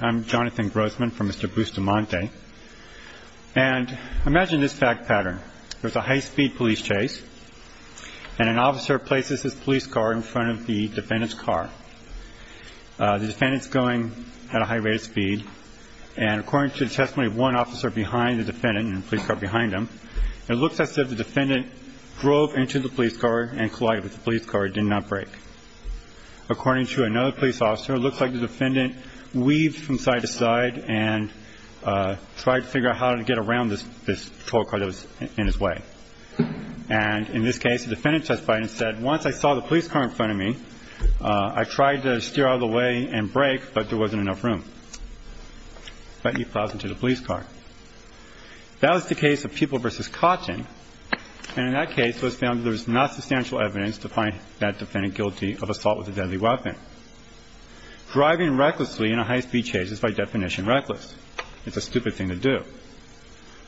I'm Jonathan Grossman from Mr. Bustamante and imagine this fact pattern. There's a high-speed police chase and an officer places his police car in front of the defendant's car. The defendant's going at a high rate of speed and according to the testimony of one officer behind the defendant and the police car behind him, it looks as if the defendant drove into the police car and collided with the police car and did not break. According to another police officer, it looks like the defendant weaved from side to side and tried to figure out how to get around this patrol car that was in his way. And in this case, the defendant testified and said, once I saw the police car in front of me, I tried to steer out of the way and break, but there wasn't enough room. But he plowed into the police car. That was the case of Peoples v. Kotchin and in that case, it was found there was not substantial evidence to find that defendant guilty of assault with a deadly weapon. Driving recklessly in a high-speed chase is by definition reckless. It's a stupid thing to do.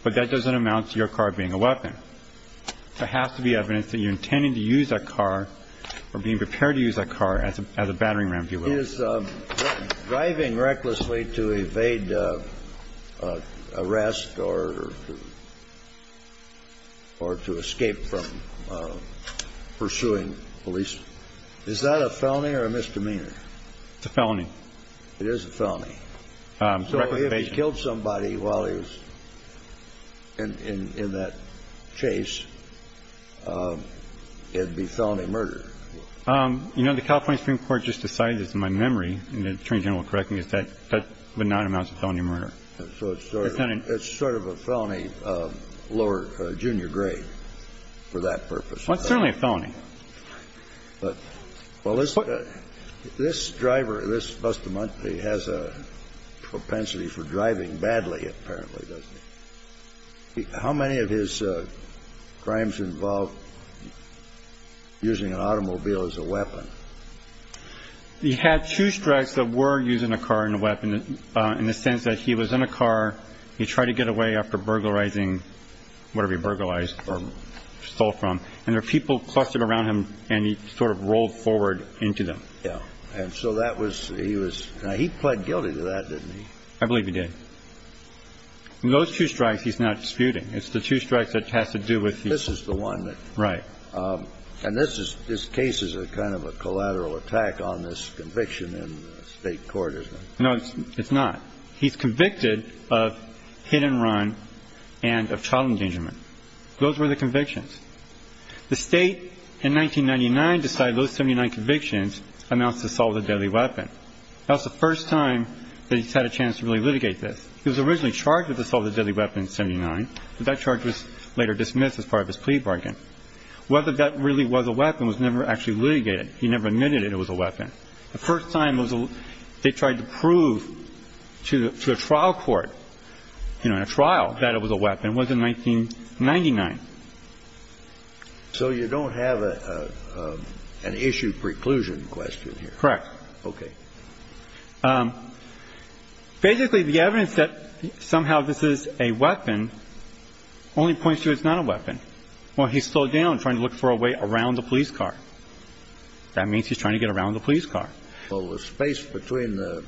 But that doesn't amount to your car being a weapon. There has to be evidence that you're intending to use that car or being prepared to use that car as a battering ram if you will. Is driving recklessly to evade arrest or to escape from pursuing police, is that a felony or a misdemeanor? It's a felony. It is a felony. So if he killed somebody while he was in that chase, it'd be felony murder. You know, the California Supreme Court just decided this in my memory, and the Attorney lower junior grade for that purpose. Well, it's certainly a felony. But, well, this this driver, this Bustamante, has a propensity for driving badly, apparently. How many of his crimes involve using an automobile as a weapon? He had two strikes that were using a car and a weapon in the sense that he was in a car. He tried to get away after burglarizing, whatever he burglarized or stole from, and there were people clustered around him and he sort of rolled forward into them. Yeah. And so that was he was he pled guilty to that, didn't he? I believe he did. Those two strikes he's not disputing. It's the two strikes that has to do with this is the one that. Right. And this is this case is a kind of a collateral attack on this conviction in state court, isn't it? No, it's not. He's convicted of hit and run and of child endangerment. Those were the convictions. The state in 1999 decided those 79 convictions amounts to assault with a deadly weapon. That was the first time that he's had a chance to really litigate this. He was originally charged with assault with a deadly weapon in 79, but that charge was later dismissed as part of his plea bargain. Whether that really was a weapon was never actually litigated. He never admitted it was a weapon. The first time they tried to prove to the trial court, you know, in a trial, that it was a weapon was in 1999. So you don't have an issue preclusion question here. Correct. Okay. Basically, the evidence that somehow this is a weapon only points to it's not a weapon. Well, he's still down trying to look for a way around the police car. That means he's trying to get around the police car. Well, the space between the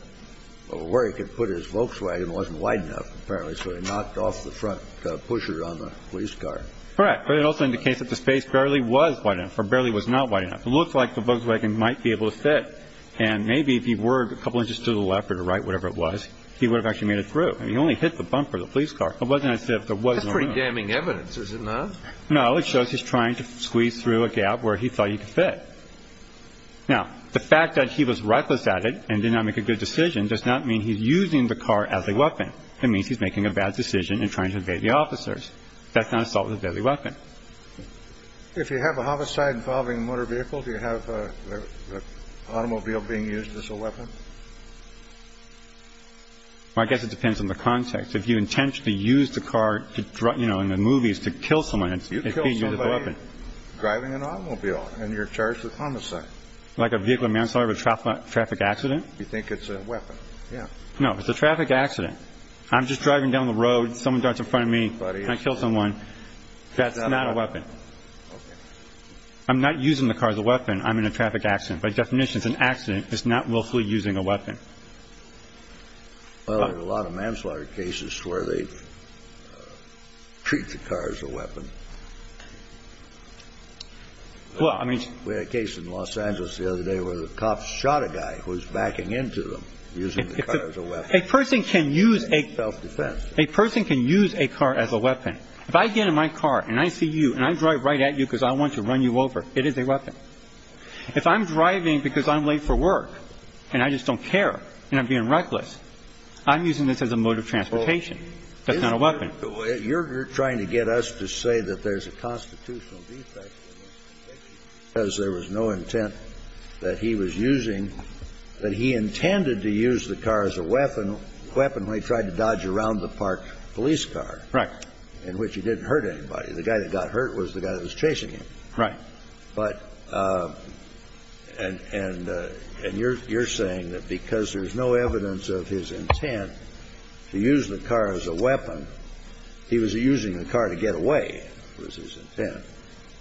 where he could put his Volkswagen wasn't wide enough, apparently, so he knocked off the front pusher on the police car. Correct. But it also indicates that the space barely was wide enough or barely was not wide enough. It looks like the Volkswagen might be able to sit. And maybe if he were a couple of inches to the left or right, whatever it was, he would have actually made it through. He only hit the bumper of the police car. It wasn't as if there was pretty damning evidence, is it not? No. It shows he's trying to squeeze through a gap where he thought he could fit. Now, the fact that he was reckless at it and did not make a good decision does not mean he's using the car as a weapon. It means he's making a bad decision and trying to evade the officers. That's not assault with a deadly weapon. If you have a homicide involving motor vehicles, you have an automobile being used as a weapon. I guess it depends on the context. If you kill somebody driving an automobile and you're charged with homicide, like a vehicle manslaughter, a traffic accident, you think it's a weapon? Yeah. No, it's a traffic accident. I'm just driving down the road. Someone darts in front of me. I kill someone. That's not a weapon. I'm not using the car as a weapon. I'm in a traffic accident. By definition, it's an accident. It's not willfully using a weapon. Well, there's a lot of manslaughter cases where they treat the car as a weapon. Well, I mean, we had a case in Los Angeles the other day where the cops shot a guy who was backing into them using the car as a weapon. A person can use a car as a weapon. If I get in my car and I see you and I drive right at you because I want to run you over, it is a weapon. If I'm driving because I'm late for work and I just don't care and I'm being reckless, I'm using this as a mode of transportation. That's not a weapon. You're trying to get us to say that there's a constitutional defect because there was no intent that he was using, that he intended to use the car as a weapon when he tried to dodge around the park police car. Right. In which he didn't hurt anybody. The intent. And you're saying that because there's no evidence of his intent to use the car as a weapon, he was using the car to get away was his intent.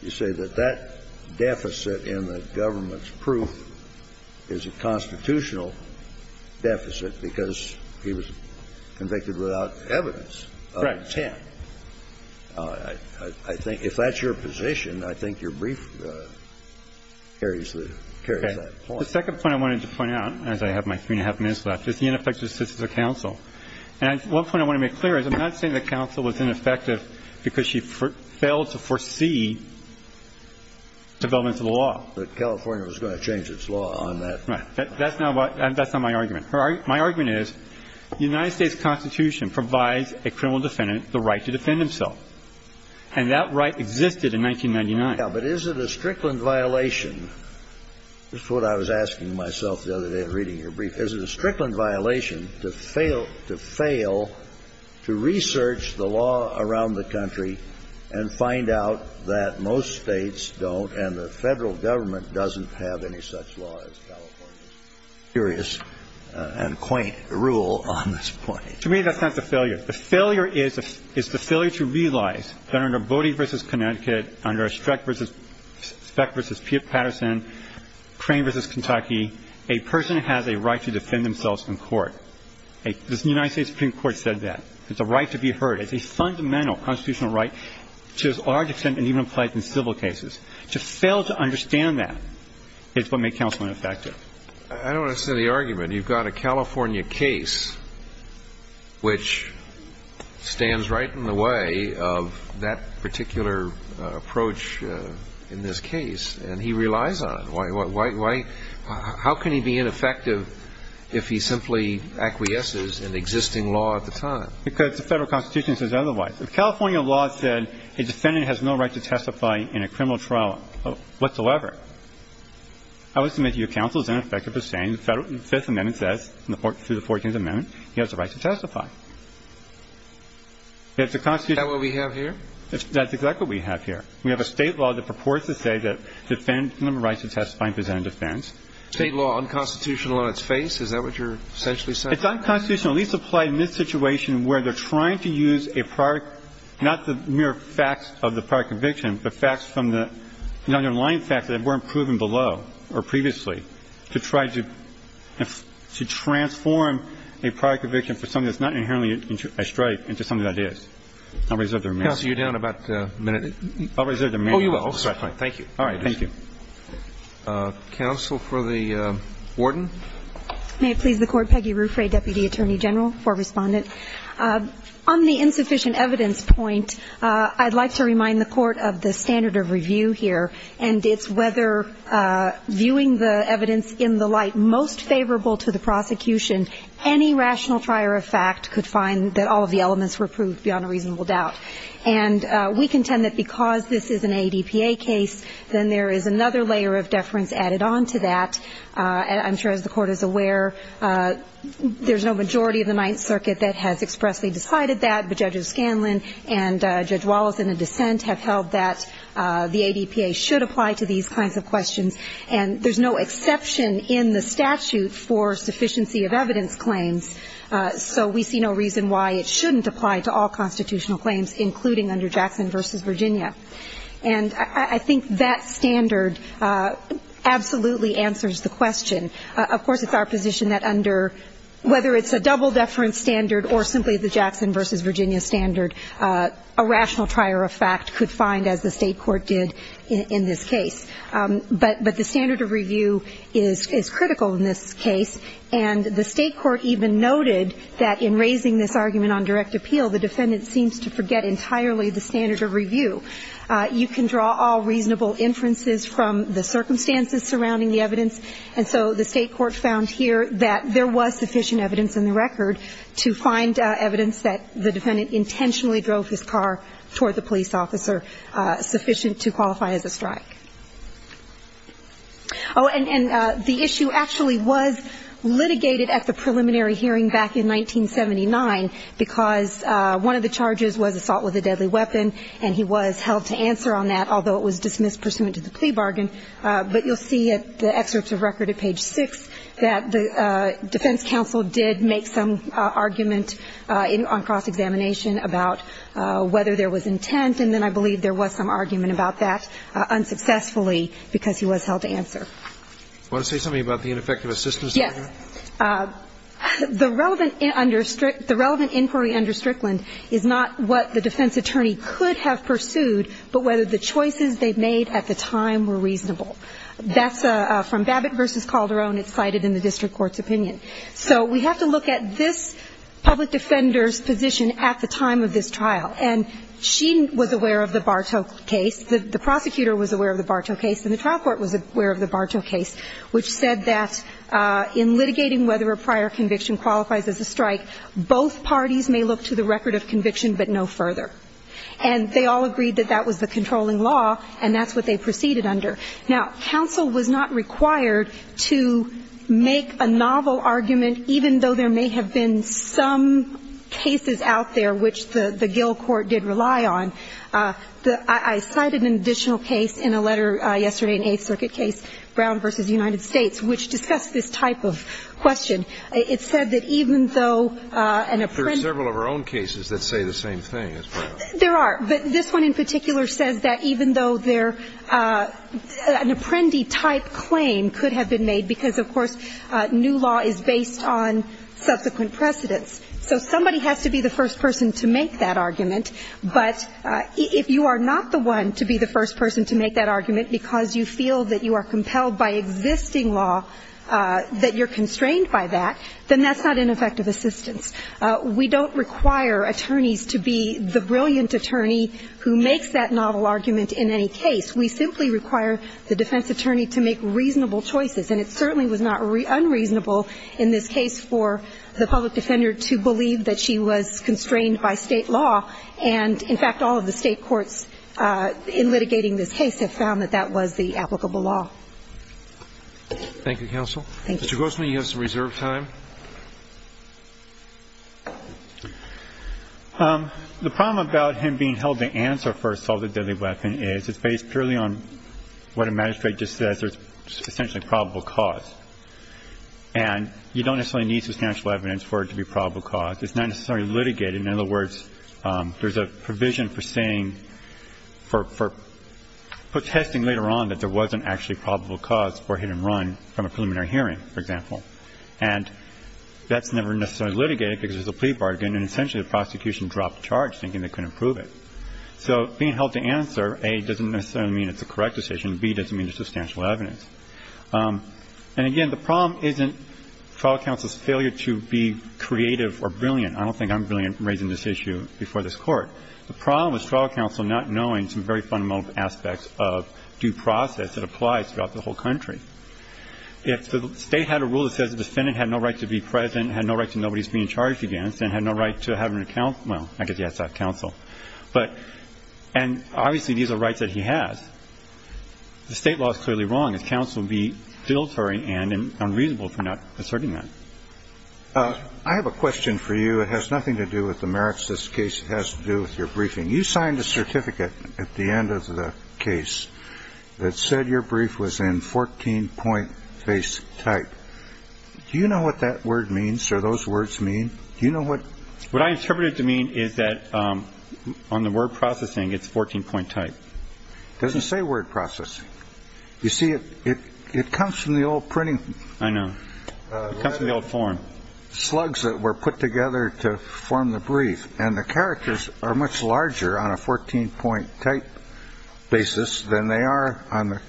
You say that that deficit in the government's proof is a constitutional deficit because he was convicted without evidence of intent. I think if that's your position, I think your brief carries that point. The second point I wanted to point out, as I have my three and a half minutes left, is the ineffective assistance of counsel. And one point I want to make clear is I'm not saying the counsel was ineffective because she failed to foresee development of the law. But California was going to change its law on that. Right. That's not my argument. My argument is the United States Constitution provides a criminal defendant the right to defend himself. And that right existed in 1999. But is it a Strickland violation? That's what I was asking myself the other day of reading your brief. Is it a Strickland violation to fail to fail to research the law around the country and find out that most states don't and the federal government doesn't have any such law as California's? Curious and quaint rule on this point. To me, that's not the failure. The failure is the failure to realize that under Bodie v. Connecticut, under Streck v. Speck v. Patterson, Crane v. Kentucky, a person has a right to defend themselves in court. The United States Supreme Court said that. It's a right to be heard. It's a fundamental constitutional right to a large extent and even applies in civil cases. To fail to understand that is what made counsel ineffective. I don't understand the argument. You've got a California case which stands right in the way of that particular approach in this case. And he relies on it. Why — how can he be ineffective if he simply acquiesces in existing law at the time? Because the federal Constitution says otherwise. If California law said a defendant has no right to testify in a criminal trial whatsoever, I would submit to your counsel as ineffective as saying the Fifth Amendment says, through the Fourteenth Amendment, he has a right to testify. If the Constitution — Is that what we have here? That's exactly what we have here. We have a State law that purports to say that defendants have no right to testify and present a defense. State law, unconstitutional on its face? Is that what you're essentially saying? It's unconstitutional. And these apply in this situation where they're trying to use a prior — not the mere facts of the prior conviction, but facts from the underlying facts that weren't proven below or previously to try to transform a prior conviction for something that's not inherently a strike into something that is. I'll reserve the remainder of my time. Counsel, you're down about a minute. I'll reserve the remainder of my time. Oh, you will. Thank you. All right. Thank you. Counsel for the warden. May it please the Court, Peggy Ruffray, Deputy Attorney General for Respondent. On the insufficient evidence point, I'd like to remind the Court of the standard of review here, and it's whether viewing the evidence in the light most favorable to the prosecution, any rational trier of fact could find that all of the elements were proved beyond a reasonable doubt. And we contend that because this is an ADPA case, then there is another layer of deference added onto that. I'm sure, as the Court is aware, there's no majority of the Ninth Circuit that has expressly decided that, but Judge O'Scanlan and Judge Wallace, in a dissent, have held that the ADPA should apply to these kinds of questions. And there's no exception in the statute for sufficiency of evidence claims, so we see no reason why it shouldn't apply to all constitutional claims, including under Jackson v. Virginia. And I think that standard absolutely answers the question. Of course, it's our position that under whether it's a double deference standard or simply the Jackson v. Virginia standard, a rational trier of fact could find, as the State Court did in this case. But the standard of review is critical in this case, and the State Court even noted that in raising this argument on direct appeal, the defendant seems to forget entirely the standard of review. You can draw all reasonable inferences from the circumstances surrounding the evidence, and so the State Court found here that there was sufficient evidence in the record to find evidence that the defendant intentionally drove his car toward the police officer sufficient to qualify as a strike. Oh, and the issue actually was litigated at the preliminary hearing back in 1979, because one of the charges was assault with a deadly weapon, and he was held to answer on that, although it was dismissed pursuant to the plea bargain. But you'll see at the excerpts of record at page 6 that the defense counsel did make some argument on cross-examination about whether there was intent, and then I believe there was some argument about that unsuccessfully, because he was held to answer. You want to say something about the ineffective assistance? Yes. The relevant understrict the relevant inquiry under Strickland is not what the defense attorney could have pursued, but whether the choices they made at the time were reasonable. That's from Babbitt v. Calderon. It's cited in the district court's opinion. So we have to look at this public defender's position at the time of this trial, and she was aware of the Bartow case. The prosecutor was aware of the Bartow case, and the trial court was aware of the Bartow case, which said that in litigating whether a prior conviction qualifies as a strike, both parties may look to the record of conviction but no further. And they all agreed that that was the controlling law, and that's what they proceeded under. Now, counsel was not required to make a novel argument, even though there may have been some cases out there which the Gill court did rely on. I cited an additional case in a letter yesterday, an Eighth Circuit case, Brown v. United States, which discussed this type of question. It said that even though an apprentice There are several of our own cases that say the same thing as Brown. There are, but this one in particular says that even though an apprentice type claim could have been made because, of course, new law is based on subsequent precedents. So somebody has to be the first person to make that argument, but if you are not the one to be the first person to make that argument because you feel that you are compelled by existing law, that you're constrained by that, then that's not ineffective assistance. We don't require attorneys to be the brilliant attorney who makes that novel argument in any case. We simply require the defense attorney to make reasonable choices. And it certainly was not unreasonable in this case for the public defender to believe that she was constrained by State law. And, in fact, all of the State courts in litigating this case have found that that was the applicable law. Thank you, counsel. Mr. Grossman, you have some reserve time. The problem about him being held to answer for assault with a deadly weapon is it's based purely on what a magistrate just says is essentially probable cause. And you don't necessarily need substantial evidence for it to be probable cause. It's not necessarily litigated. In other words, there's a provision for saying, for protesting later on that there wasn't actually probable cause or hit-and-run from a preliminary hearing, for example. And that's never necessarily litigated because there's a plea bargain, and essentially the prosecution dropped the charge, thinking they couldn't prove it. So being held to answer, A, doesn't necessarily mean it's a correct decision. B, doesn't mean there's substantial evidence. And, again, the problem isn't trial counsel's failure to be creative or brilliant. I don't think I'm brilliant in raising this issue before this Court. The problem is trial counsel not knowing some very fundamental aspects of due process that applies throughout the whole country. If the State had a rule that says the defendant had no right to be present, had no right to know what he's being charged against, and had no right to have an account of, well, I guess he has to have counsel. But – and obviously these are rights that he has. The State law is clearly wrong. His counsel would be filtering and unreasonable for not asserting that. I have a question for you. It has nothing to do with the merits of this case. It has to do with your briefing. You signed a certificate at the end of the case that said your brief was in 14-point face type. Do you know what that word means, or those words mean? Do you know what – What I interpret it to mean is that on the word processing, it's 14-point type. It doesn't say word processing. You see, it comes from the old printing – I know. It comes from the old form. Slugs that were put together to form the brief. And the characters are much larger on a 14-point type basis than they are on the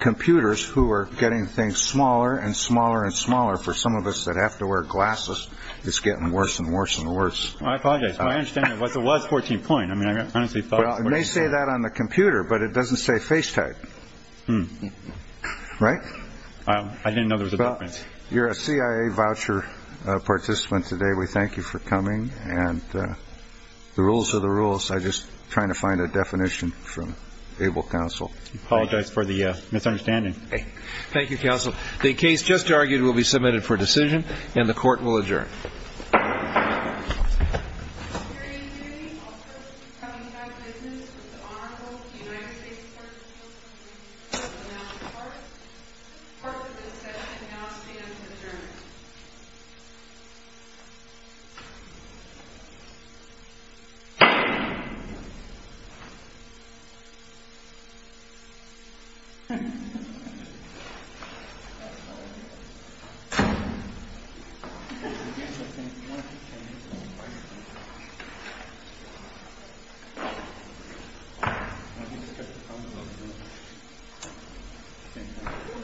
computers who are getting things smaller and smaller and smaller. For some of us that have to wear glasses, it's getting worse and worse and worse. I apologize. My understanding was it was 14-point. I mean, I honestly thought – It may say that on the computer, but it doesn't say face type. Right? I didn't know there was a difference. You're a CIA voucher participant today. We thank you for coming. And the rules are the rules. I'm just trying to find a definition from able counsel. I apologize for the misunderstanding. Okay. Thank you, counsel. The case just argued will be submitted for decision, and the Court will adjourn.